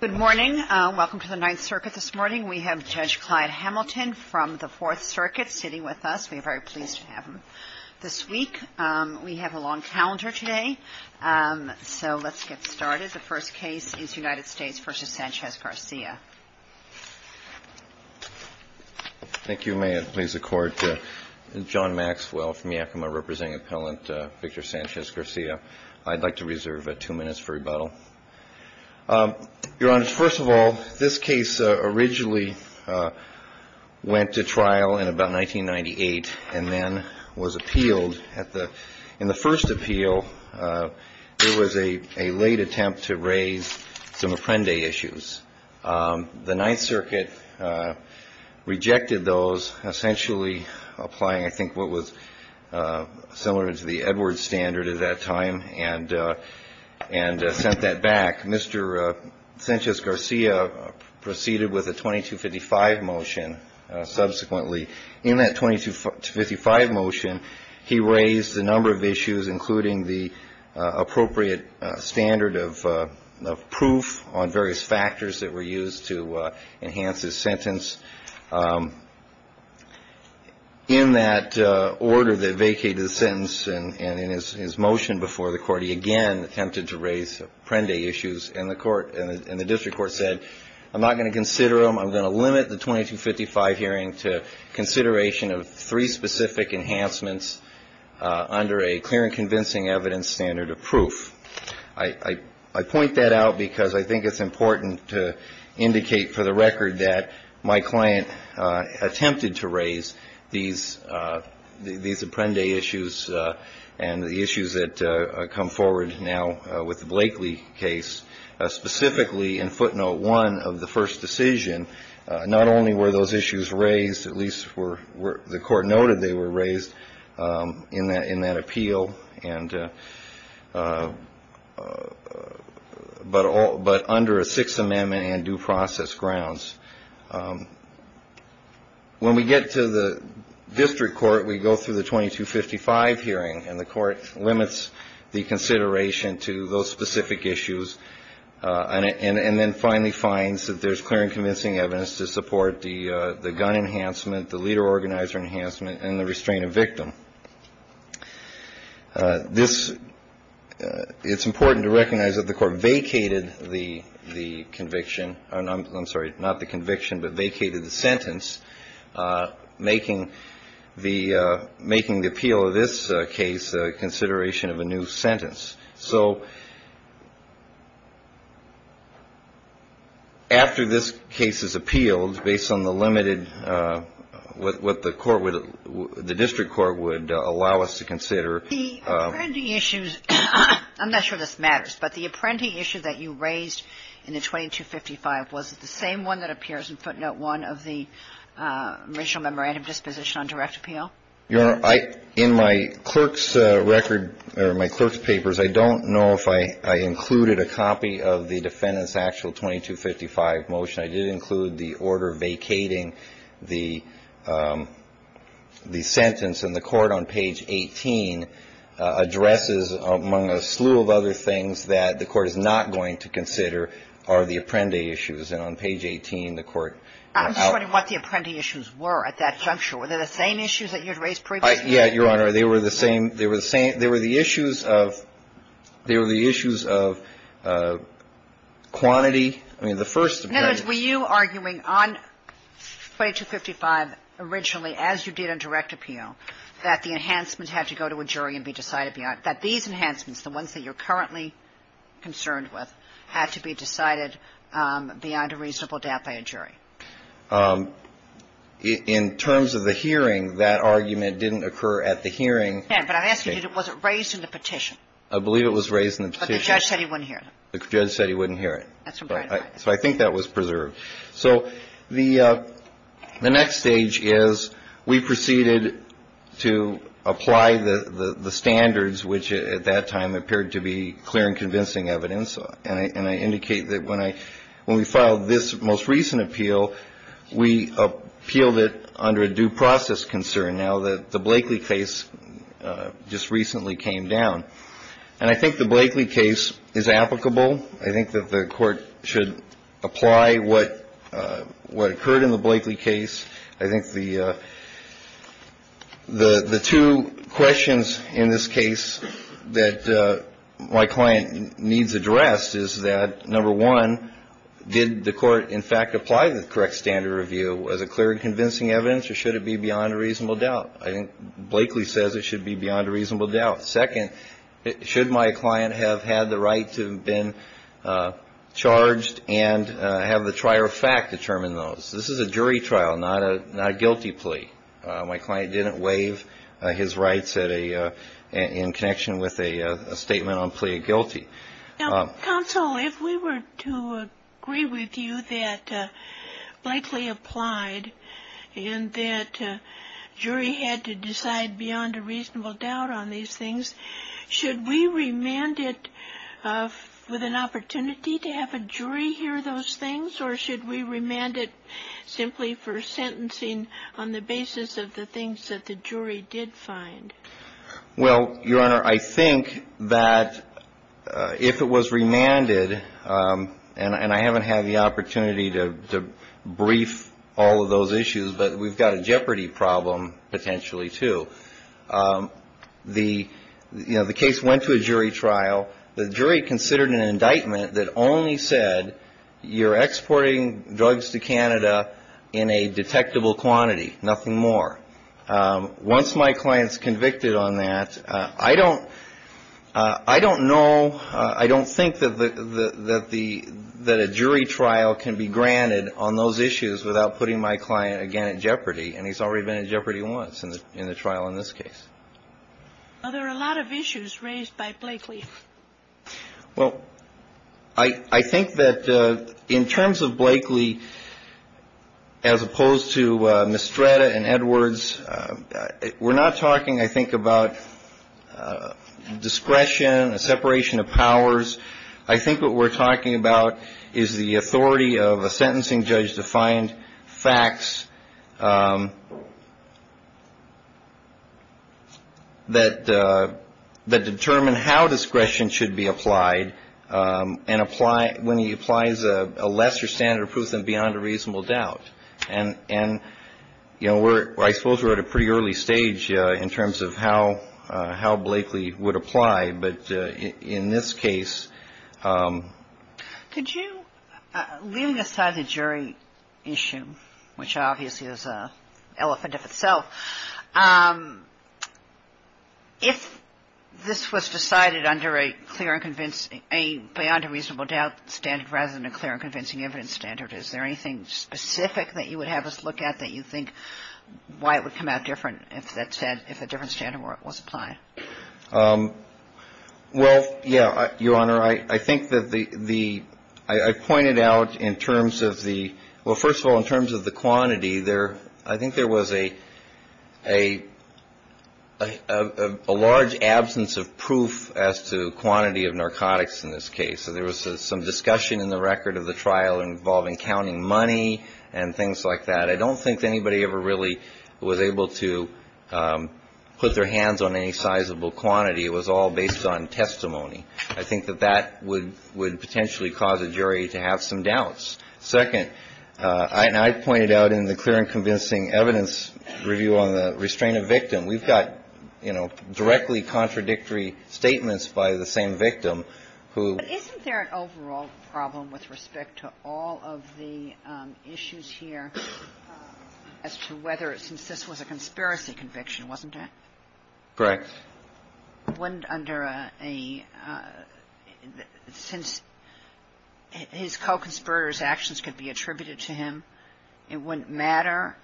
Good morning. Welcome to the Ninth Circuit. This morning we have Judge Clyde Hamilton from the Fourth Circuit sitting with us. We are very pleased to have him this week. We have a long calendar today. So let's get started. The first case is United States v. Sanchez-Garcia. Thank you. May it please the Court. John Maxwell from Yakima representing Appellant Victor Sanchez-Garcia. I'd like to reserve two minutes for rebuttal. Your Honor, first of all, this case originally went to trial in about 1998 and then was appealed. In the first appeal there was a late attempt to raise some Apprende issues. The Ninth Circuit rejected those, essentially applying, I think, what was similar to the Edwards standard at that time and sent that back. Mr. Sanchez-Garcia proceeded with a 2255 motion subsequently. In that 2255 motion he raised a number of issues, including the appropriate standard of proof on various factors that were used to enhance his sentence. In that order that vacated the sentence and in his motion before the Court, he again attempted to raise Apprende issues. And the District Court said, I'm not going to consider them. I'm going to limit the 2255 hearing to consideration of three specific enhancements under a clear and convincing evidence standard of proof. I point that out because I think it's important to indicate for the record that my client attempted to raise these Apprende issues and the issues that come forward now with the Blakely case. Specifically in footnote one of the first decision, not only were those issues raised, at least the Court noted they were raised in that appeal, and the District Court said, I'm not going to consider them, but under a Sixth Amendment and due process grounds. When we get to the District Court, we go through the 2255 hearing, and the Court limits the consideration to those specific issues, and then finally finds that there's clear and convincing evidence to support the gun enhancement, the leader-organizer enhancement, and the restraint of victim. It's important to recognize that the Court vacated the conviction, I'm sorry, not the conviction, but vacated the sentence, making the appeal of this case a consideration of a new sentence. So after this case is appealed based on the limited, what the Court would, the District Court would allow us to consider. The Apprende issues, I'm not sure this matters, but the Apprende issue that you raised in the 2255, was it the same one that appears in footnote one of the original memorandum disposition on direct appeal? Your Honor, in my clerk's record, or my clerk's papers, I don't know if I included a copy of the defendant's actual 2255 motion. I did include the order vacating the sentence, and the Court on page 18 addresses, among a slew of other things that the Court is not going to consider, are the Apprende issues. And on page 18, the Court adopted the Apprende issue. I'm just wondering what the Apprende issues were at that juncture. Were they the same issues that you had raised previously? Yeah, Your Honor. They were the same. They were the same. They were the issues of quantity. I mean, the first defendant's ---- In other words, were you arguing on 2255 originally, as you did on direct appeal, that the enhancements had to go to a jury and be decided beyond, that these enhancements, the ones that you're currently concerned with, had to be decided beyond a reasonable doubt by a jury? In terms of the hearing, that argument didn't occur at the hearing. Yeah, but I'm asking you, was it raised in the petition? I believe it was raised in the petition. But the judge said he wouldn't hear it. The judge said he wouldn't hear it. That's right. So I think that was preserved. So the next stage is we proceeded to apply the standards, which at that time appeared to be clear and convincing evidence. And I indicate that when we filed this most recent appeal, we appealed it under a due process concern, now that the Blakeley case just recently came down. And I think the Blakeley case is applicable. I think that the Court should apply what occurred in the Blakeley case. I think the two questions in this case that my client needs addressed is that, number one, did the Court in fact apply the correct standard review? Was it clear and convincing evidence, or should it be beyond a reasonable doubt? I think Blakeley says it should be beyond a reasonable doubt. Second, should my client have had the right to have been charged and have the trier of fact determine those? This is a jury trial, not a guilty plea. My client didn't waive his rights in connection with a statement on plea guilty. Now, counsel, if we were to agree with you that Blakeley applied and that jury had to decide beyond a reasonable doubt on these things, should we remand it with an opportunity to have a jury hear those things, or should we remand it simply for sentencing on the basis of the things that the jury did find? Well, Your Honor, I think that if it was remanded, and I haven't had the opportunity to brief all of those issues, but we've got a jeopardy problem potentially, too. The case went to a jury trial. The jury considered an indictment that only said you're exporting drugs to Canada in a detectable quantity, nothing more. Once my client's convicted on that, I don't know, I don't think that a jury trial can be granted on those issues without putting my client again in jeopardy, and he's already been in jeopardy once in the trial in this case. Well, there are a lot of issues raised by Blakeley. Well, I think that in terms of Blakeley, as opposed to Mistretta and Edwards, we're not talking, I think, about discretion, a separation of powers. I think what we're talking about is the authority of a sentencing judge to find facts that determine how discretion should be applied when he applies a lesser standard of proof than beyond a reasonable doubt. And, you know, I suppose we're at a pretty early stage in terms of how Blakeley would apply, but in this case… Could you, leaving aside the jury issue, which obviously is an elephant of itself, if this was decided under a clear and convincing, beyond a reasonable doubt standard rather than a clear and convincing evidence standard, is there anything specific that you would have us look at that you think why it would come out different if that said, if a different standard was applied? Well, yeah, Your Honor, I think that the… I pointed out in terms of the… Well, first of all, in terms of the quantity, I think there was a large absence of proof as to quantity of narcotics in this case. There was some discussion in the record of the trial involving counting money and things like that. I don't think anybody ever really was able to put their hands on any sizable quantity. It was all based on testimony. I think that that would potentially cause a jury to have some doubts. Second, and I pointed out in the clear and convincing evidence review on the restraint of victim, we've got, you know, directly contradictory statements by the same victim who… I think that there was a problem with respect to all of the issues here as to whether, since this was a conspiracy conviction, wasn't it? Correct. Wouldn't under a… Since his co-conspirator's actions could be attributed to him, it wouldn't matter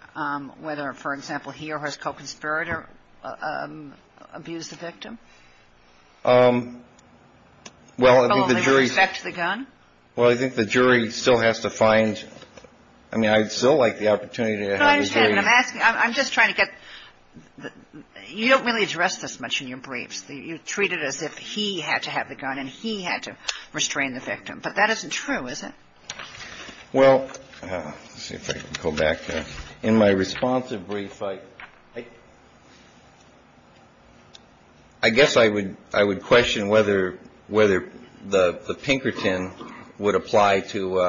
whether, for example, he or his co-conspirator abused the victim? Well, I think the jury… Well, in respect to the gun? Well, I think the jury still has to find… I mean, I'd still like the opportunity to have the jury… But I understand what I'm asking. I'm just trying to get… You don't really address this much in your briefs. You treat it as if he had to have the gun and he had to restrain the victim. But that isn't true, is it? Well, let's see if I can go back here. In my responsive brief, I guess I would question whether the Pinkerton would apply to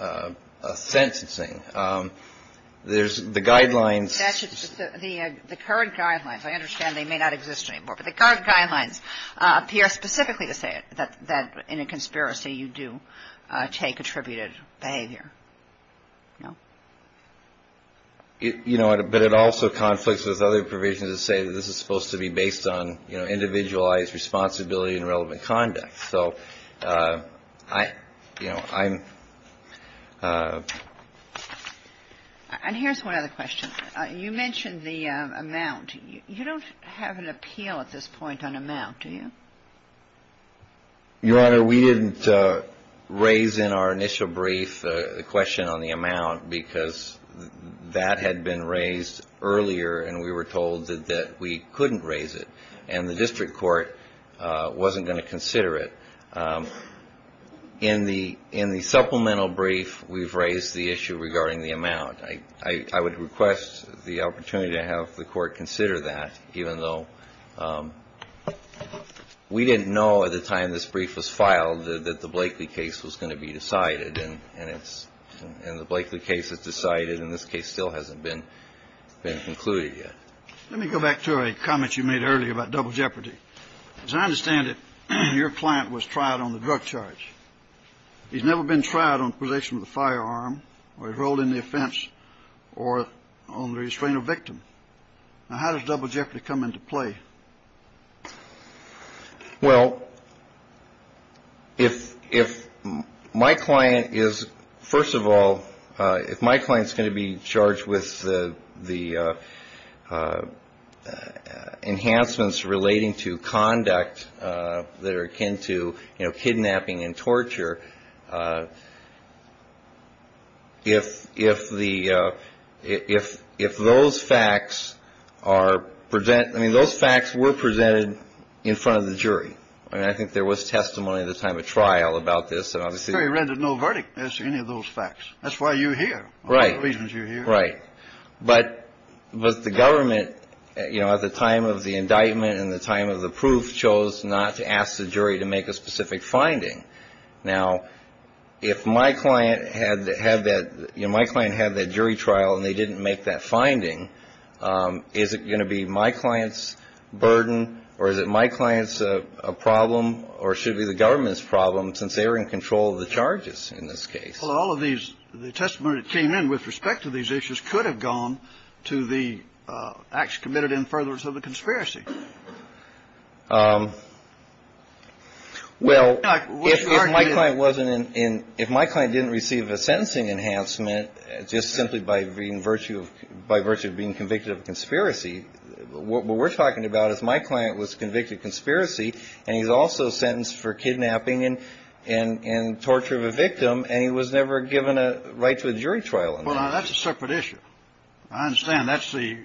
a sentencing. There's the guidelines… The current guidelines. I understand they may not exist anymore. But the current guidelines appear specifically to say that in a conspiracy you do take attributed behavior. No? You know, but it also conflicts with other provisions that say that this is supposed to be based on, you know, individualized responsibility and relevant conduct. So, you know, I'm… And here's one other question. You mentioned the amount. You don't have an appeal at this point on amount, do you? Your Honor, we didn't raise in our initial brief the question on the amount because that had been raised earlier and we were told that we couldn't raise it and the district court wasn't going to consider it. In the supplemental brief, we've raised the issue regarding the amount. I would request the opportunity to have the court consider that, even though we didn't know at the time this brief was filed that the Blakely case was going to be decided and it's… And the Blakely case is decided and this case still hasn't been concluded yet. Let me go back to a comment you made earlier about double jeopardy. As I understand it, your client was tried on the drug charge. He's never been tried on possession of the firearm or enrolled in the offense or on the restraint of victim. Now, how does double jeopardy come into play? Well, if my client is, first of all, if my client is going to be charged with the enhancements relating to conduct that are akin to, you know, kidnapping and torture, if the – if those facts are – I mean, those facts were presented in front of the jury. I mean, I think there was testimony at the time of trial about this and obviously… The jury rendered no verdict as to any of those facts. That's why you're here. Right. All the reasons you're here. Right. But the government, you know, at the time of the indictment and the time of the proof chose not to ask the jury to make a specific finding. Now, if my client had had that – you know, my client had that jury trial and they didn't make that finding, is it going to be my client's burden or is it my client's problem or should it be the government's problem since they were in control of the charges in this case? Well, all of these – the testimony that came in with respect to these issues could have gone to the acts committed in furtherance of the conspiracy. Well, if my client wasn't in – if my client didn't receive a sentencing enhancement just simply by virtue of being convicted of a conspiracy, what we're talking about is my client was convicted of conspiracy and he's also sentenced for kidnapping and torture of a victim and he was never given a right to a jury trial. Well, now, that's a separate issue. I understand. That's the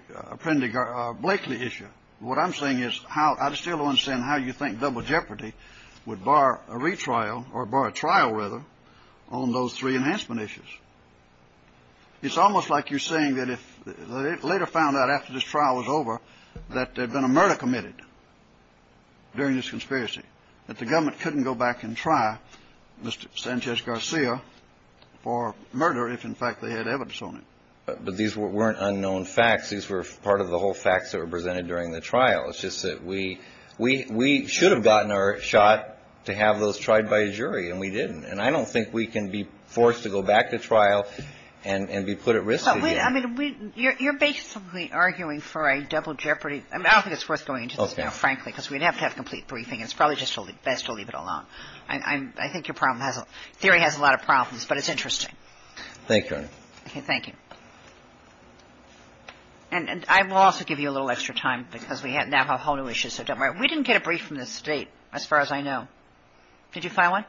Blakely issue. What I'm saying is how – I still don't understand how you think Double Jeopardy would bar a retrial or bar a trial, rather, on those three enhancement issues. It's almost like you're saying that if – they later found out after this trial was over that there had been a murder committed during this conspiracy, that the government couldn't go back and try Mr. Sanchez-Garcia for murder if, in fact, they had evidence on him. But these weren't unknown facts. These were part of the whole facts that were presented during the trial. It's just that we should have gotten our shot to have those tried by a jury, and we didn't. And I don't think we can be forced to go back to trial and be put at risk again. I mean, you're basically arguing for a Double Jeopardy – I mean, I don't think it's worth going into this now, frankly, because we'd have to have complete briefing, and it's probably just best to leave it alone. I think your theory has a lot of problems, but it's interesting. Thank you, Your Honor. Okay, thank you. And I will also give you a little extra time because we now have a whole new issue, so don't worry. We didn't get a brief from the State, as far as I know. Did you file one?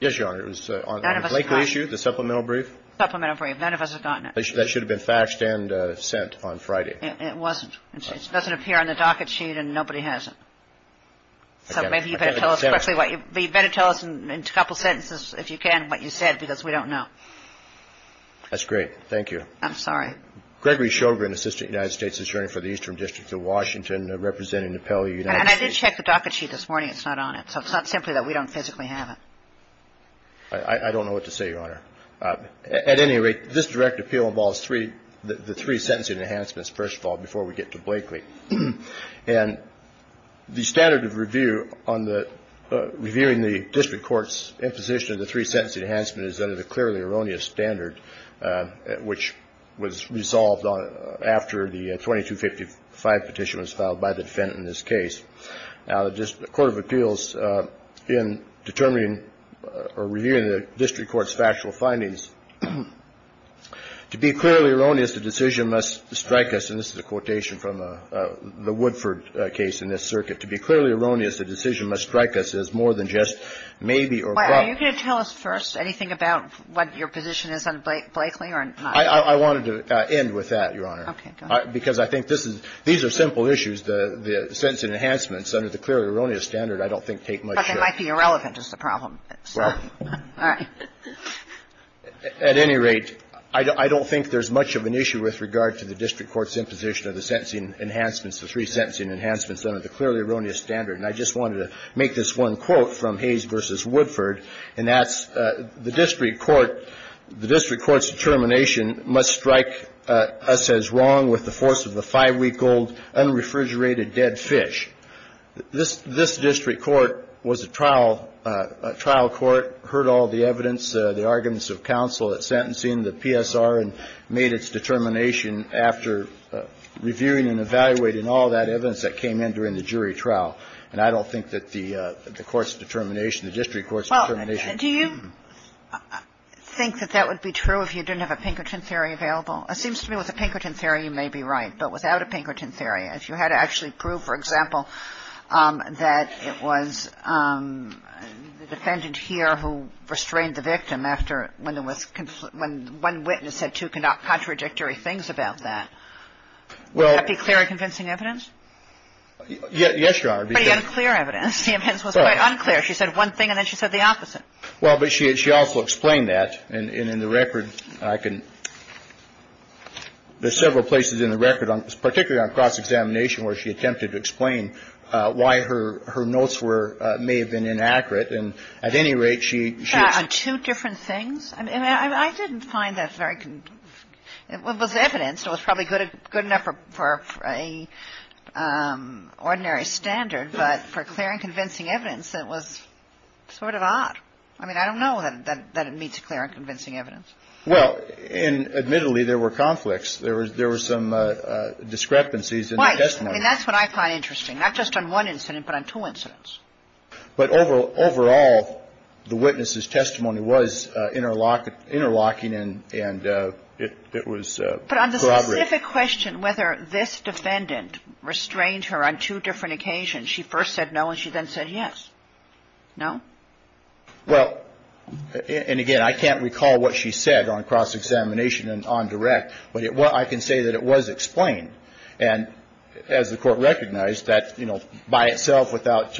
Yes, Your Honor. It was on the Blakely issue, the supplemental brief. Supplemental brief. None of us had gotten it. That should have been faxed and sent on Friday. It wasn't. It doesn't appear on the docket sheet, and nobody has it. So maybe you'd better tell us quickly what you – but you'd better tell us in a couple sentences, if you can, what you said, because we don't know. That's great. Thank you. I'm sorry. Gregory Shogren, Assistant United States Attorney for the Eastern District of Washington, representing the Pelley United States. And I did check the docket sheet this morning. It's not on it, so it's not simply that we don't physically have it. I don't know what to say, Your Honor. At any rate, this direct appeal involves three – the three sentencing enhancements, first of all, before we get to Blakely. And the standard of review on the – reviewing the district court's imposition of the three sentencing enhancements is under the clearly erroneous standard, which was resolved after the 2255 petition was filed by the defendant in this case. Now, the court of appeals, in determining or reviewing the district court's factual findings, to be clearly erroneous, the decision must strike us – and this is a quotation from the Woodford case in this circuit – to be clearly erroneous, the decision must strike us as more than just maybe or – Are you going to tell us first anything about what your position is on Blakely or not? I wanted to end with that, Your Honor. Okay. Go ahead. Because I think this is – these are simple issues. The – the sentencing enhancements under the clearly erroneous standard I don't think take much – But they might be irrelevant is the problem. Well – All right. At any rate, I don't think there's much of an issue with regard to the district court's imposition of the sentencing enhancements, the three sentencing enhancements under the clearly erroneous standard. And I just wanted to make this one quote from Hayes v. Woodford, and that's the district court – the district court's determination must strike us as wrong with the force of the five-week-old unrefrigerated dead fish. This – this district court was a trial – a trial court, heard all the evidence, the arguments of counsel at sentencing, the PSR, and made its determination after reviewing and evaluating all that evidence that came in during the jury trial. And I don't think that the court's determination, the district court's determination – I think that that would be true if you didn't have a Pinkerton theory available. It seems to me with a Pinkerton theory you may be right, but without a Pinkerton theory, if you had to actually prove, for example, that it was the defendant here who restrained the victim after – when there was – when one witness said two contradictory things about that. Well – Would that be clear and convincing evidence? Yes, Your Honor, because – Pretty unclear evidence. The evidence was quite unclear. She said one thing, and then she said the opposite. Well, but she also explained that. And in the record, I can – there's several places in the record, particularly on cross-examination, where she attempted to explain why her notes were – may have been inaccurate. And at any rate, she – On two different things? I mean, I didn't find that very – it was evidence. It was probably good enough for an ordinary standard, but for clear and convincing evidence, it was sort of odd. I mean, I don't know that it meets clear and convincing evidence. Well, and admittedly, there were conflicts. There was – there were some discrepancies in the testimony. Why? I mean, that's what I find interesting, not just on one incident, but on two incidents. But overall, the witness's testimony was interlocking and it was corroborated. But on the specific question whether this defendant restrained her on two different occasions, she first said no, and she then said yes. No? Well, and again, I can't recall what she said on cross-examination and on direct, but I can say that it was explained. And as the Court recognized that, you know, by itself, without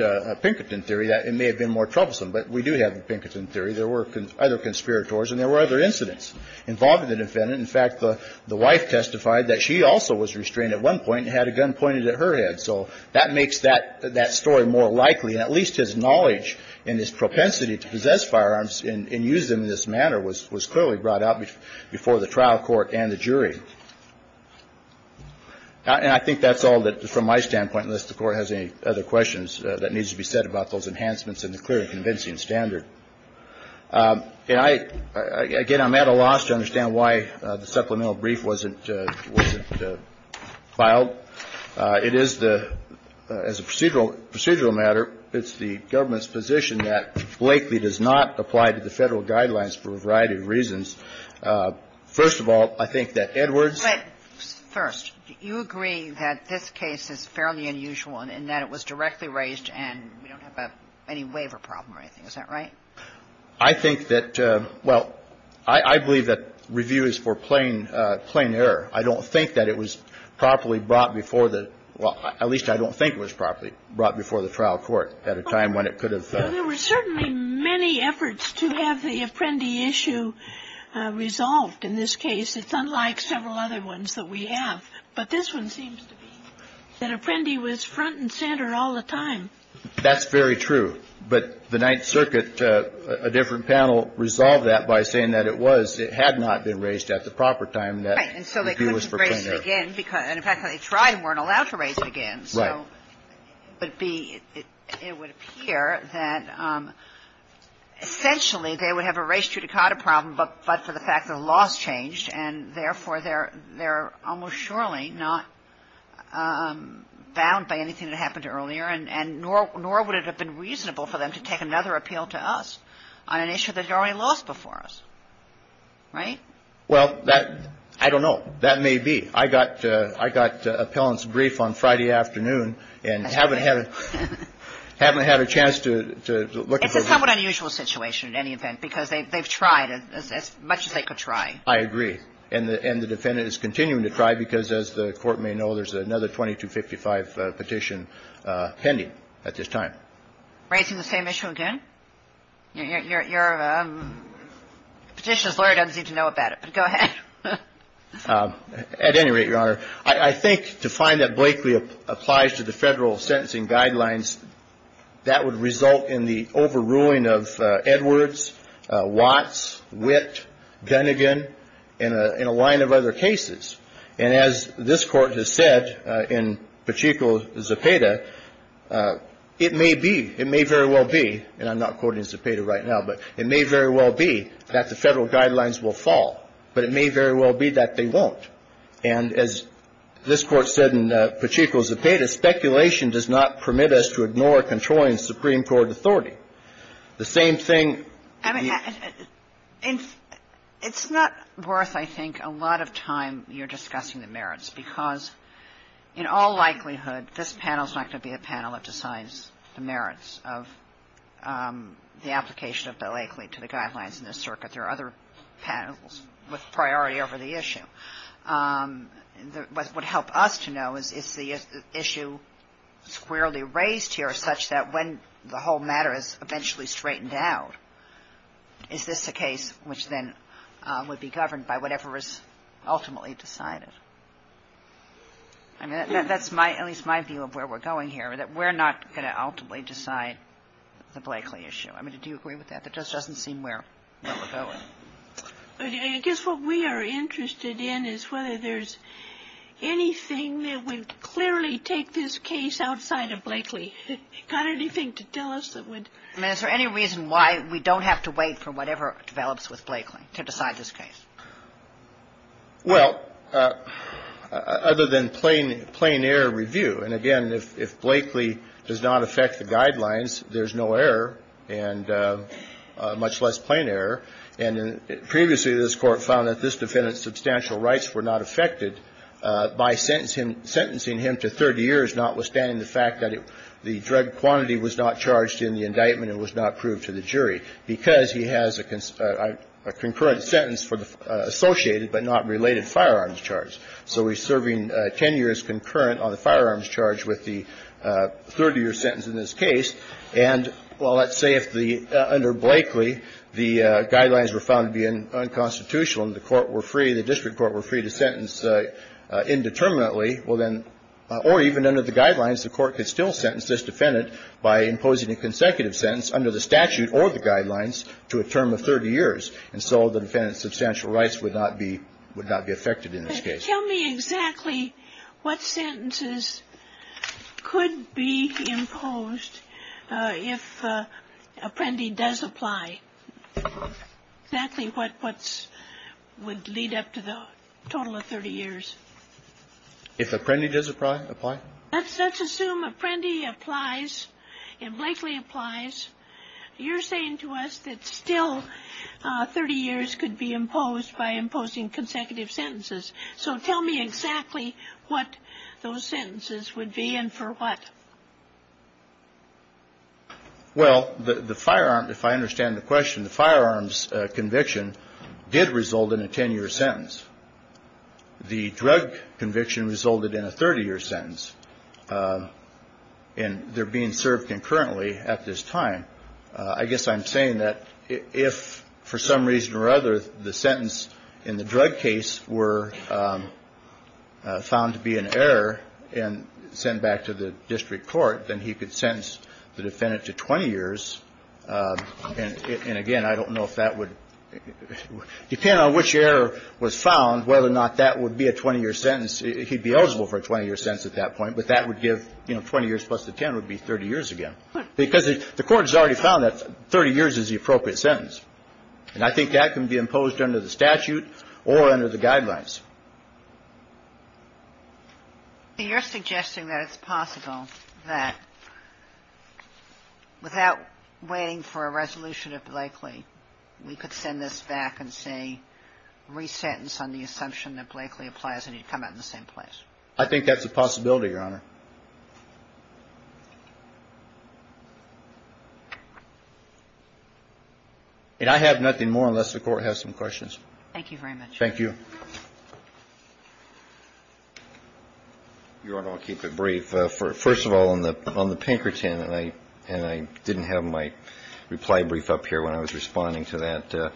Pinkerton theory, that it may have been more troublesome. But we do have the Pinkerton theory. There were other conspirators and there were other incidents involving the defendant. In fact, the wife testified that she also was restrained at one point and had a gun pointed at her head. So that makes that story more likely, and at least his knowledge and his propensity to possess firearms and use them in this manner was clearly brought out before the trial court and the jury. And I think that's all from my standpoint, unless the Court has any other questions that need to be said about those enhancements and the clear and convincing standard. Again, I'm at a loss to understand why the supplemental brief wasn't filed. It is the – as a procedural matter, it's the government's position that Blakeley does not apply to the Federal guidelines for a variety of reasons. First of all, I think that Edwards – But first, you agree that this case is fairly unusual in that it was directly raised and we don't have any waiver problem or anything. Is that right? I think that – well, I believe that review is for plain error. I don't think that it was properly brought before the – well, at least I don't think it was properly brought before the trial court at a time when it could have – There were certainly many efforts to have the Apprendi issue resolved in this case. It's unlike several other ones that we have. But this one seems to be that Apprendi was front and center all the time. That's very true. But the Ninth Circuit, a different panel, resolved that by saying that it was – it had not been raised at the proper time that – Right. And so they couldn't raise it again. And, in fact, they tried and weren't allowed to raise it again. Right. So it would be – it would appear that essentially they would have a res judicata problem, but for the fact that the laws changed, and therefore they're almost surely not bound by anything that happened earlier, and nor would it have been reasonable for them to take another appeal to us on an issue that had already lost before us. Right? Well, that – I don't know. That may be. I got appellant's brief on Friday afternoon and haven't had a chance to look at the – It's a somewhat unusual situation in any event because they've tried as much as they could try. I agree. And the defendant is continuing to try because, as the Court may know, there's another 2255 petition pending at this time. Raising the same issue again? Your petitioner's lawyer doesn't seem to know about it, but go ahead. At any rate, Your Honor, I think to find that Blakely applies to the federal sentencing guidelines, that would result in the overruling of Edwards, Watts, Witt, Gunnigan, and a line of other cases. And as this Court has said in Pacheco-Zapata, it may be, it may very well be, and I'm not quoting Zapata right now, but it may very well be that the federal guidelines will fall. But it may very well be that they won't. And as this Court said in Pacheco-Zapata, speculation does not permit us to ignore controlling Supreme Court authority. The same thing – It's not worth, I think, a lot of time here discussing the merits, because in all likelihood this panel's not going to be a panel that decides the merits of the application of Blakely to the guidelines in this circuit. There are other panels with priority over the issue. What would help us to know is, is the issue squarely raised here such that when the whole matter is eventually straightened out, is this a case which then would be governed by whatever is ultimately decided? I mean, that's my, at least my view of where we're going here, that we're not going to ultimately decide the Blakely issue. I mean, do you agree with that? That just doesn't seem where we're going. I guess what we are interested in is whether there's anything that would clearly take this case outside of Blakely. You got anything to tell us that would – I mean, is there any reason why we don't have to wait for whatever develops with Blakely to decide this case? Well, other than plain, plain error review. And again, if Blakely does not affect the guidelines, there's no error and much less plain error. And previously this Court found that this defendant's substantial rights were not affected by sentencing him to 30 years, notwithstanding the fact that the drug quantity was not charged in the indictment and was not proved to the jury, because he has a concurrent sentence for the associated but not related firearms charge. So he's serving 10 years concurrent on the firearms charge with the 30-year sentence in this case. And, well, let's say if under Blakely the guidelines were found to be unconstitutional and the court were free, let's say the district court were free to sentence indeterminately, well, then, or even under the guidelines the court could still sentence this defendant by imposing a consecutive sentence under the statute or the guidelines to a term of 30 years. And so the defendant's substantial rights would not be – would not be affected in this case. Tell me exactly what sentences could be imposed if Apprendi does apply, exactly what would lead up to the total of 30 years. If Apprendi does apply? Let's assume Apprendi applies and Blakely applies. You're saying to us that still 30 years could be imposed by imposing consecutive sentences. So tell me exactly what those sentences would be and for what. Well, the firearm, if I understand the question, the firearms conviction did result in a 10-year sentence. The drug conviction resulted in a 30-year sentence, and they're being served concurrently at this time. I guess I'm saying that if, for some reason or other, the sentence in the drug case were found to be an error and sent back to the district court, then he could sentence the defendant to 20 years. And, again, I don't know if that would – depending on which error was found, whether or not that would be a 20-year sentence, he'd be eligible for a 20-year sentence at that point, but that would give, you know, 20 years plus the 10 would be 30 years again. Because the Court has already found that 30 years is the appropriate sentence. And I think that can be imposed under the statute or under the guidelines. So you're suggesting that it's possible that without waiting for a resolution of Blakely, we could send this back and say resentence on the assumption that Blakely applies and he'd come out in the same place. I think that's a possibility, Your Honor. And I have nothing more unless the Court has some questions. Thank you very much. Thank you. Your Honor, I'll keep it brief. First of all, on the Pinkerton, and I didn't have my reply brief up here when I was responding to that,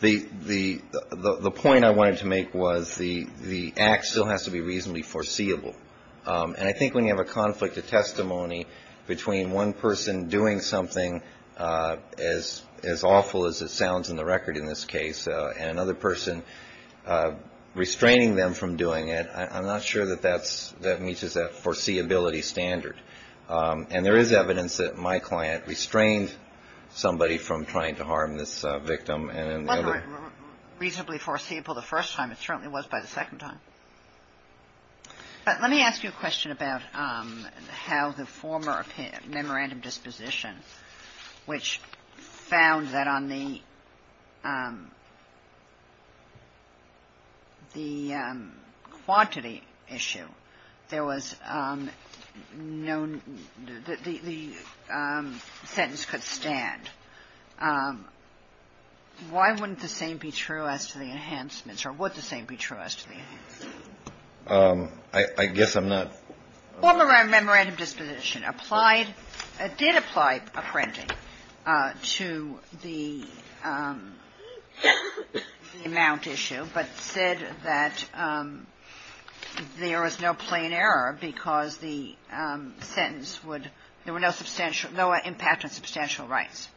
the point I wanted to make was the act still has to be reasonably foreseeable. And I think when you have a conflict of testimony between one person doing something as awful as it sounds in the record in this case and another person restraining them from doing it, I'm not sure that that meets as a foreseeability standard. And there is evidence that my client restrained somebody from trying to harm this victim and the other. It wasn't reasonably foreseeable the first time. It certainly was by the second time. But let me ask you a question about how the former memorandum disposition, which found that on the quantity issue, there was no, the sentence could stand. Why wouldn't the same be true as to the enhancements, or would the same be true as to the enhancements? I guess I'm not. Former memorandum disposition did apply a printing to the amount issue, but said that there was no plain error because the sentence would, there were no impact on substantial rights.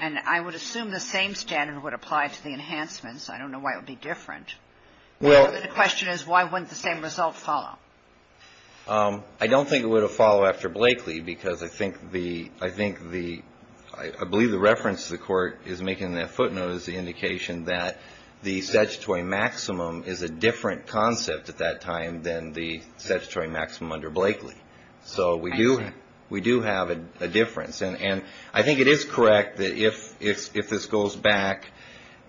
And I would assume the same standard would apply to the enhancements. I don't know why it would be different. The question is why wouldn't the same result follow? I don't think it would have followed after Blakely because I think the, I believe the reference the court is making in that footnote is the indication that the statutory maximum is a different concept at that time than the statutory maximum under Blakely. So we do have a difference. And I think it is correct that if this goes back,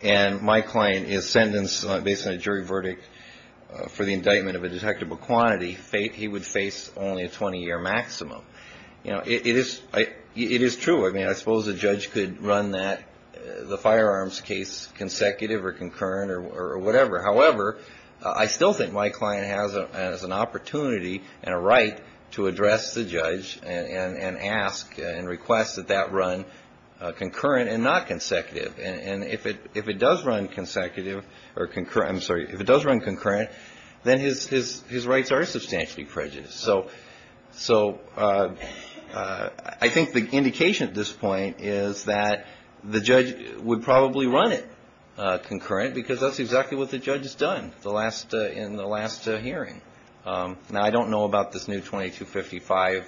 and my client is sentenced based on a jury verdict for the indictment of a detectable quantity, he would face only a 20-year maximum. It is true. I mean, I suppose a judge could run that, the firearms case, consecutive or concurrent or whatever. However, I still think my client has an opportunity and a right to address the judge and ask and request that that run concurrent and not consecutive. And if it does run consecutive or concurrent, I'm sorry, if it does run concurrent, then his rights are substantially prejudiced. So I think the indication at this point is that the judge would probably run it concurrent because that's exactly what the judge has done in the last hearing. Now, I don't know about this new 2255.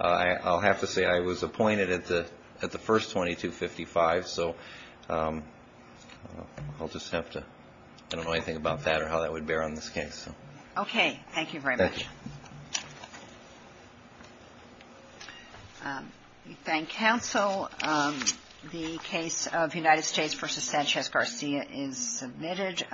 I'll have to say I was appointed at the first 2255. So I'll just have to – I don't know anything about that or how that would bear on this case. Okay. Thank you very much. Thank you. We thank counsel. The case of United States v. Sanchez-Garcia is submitted.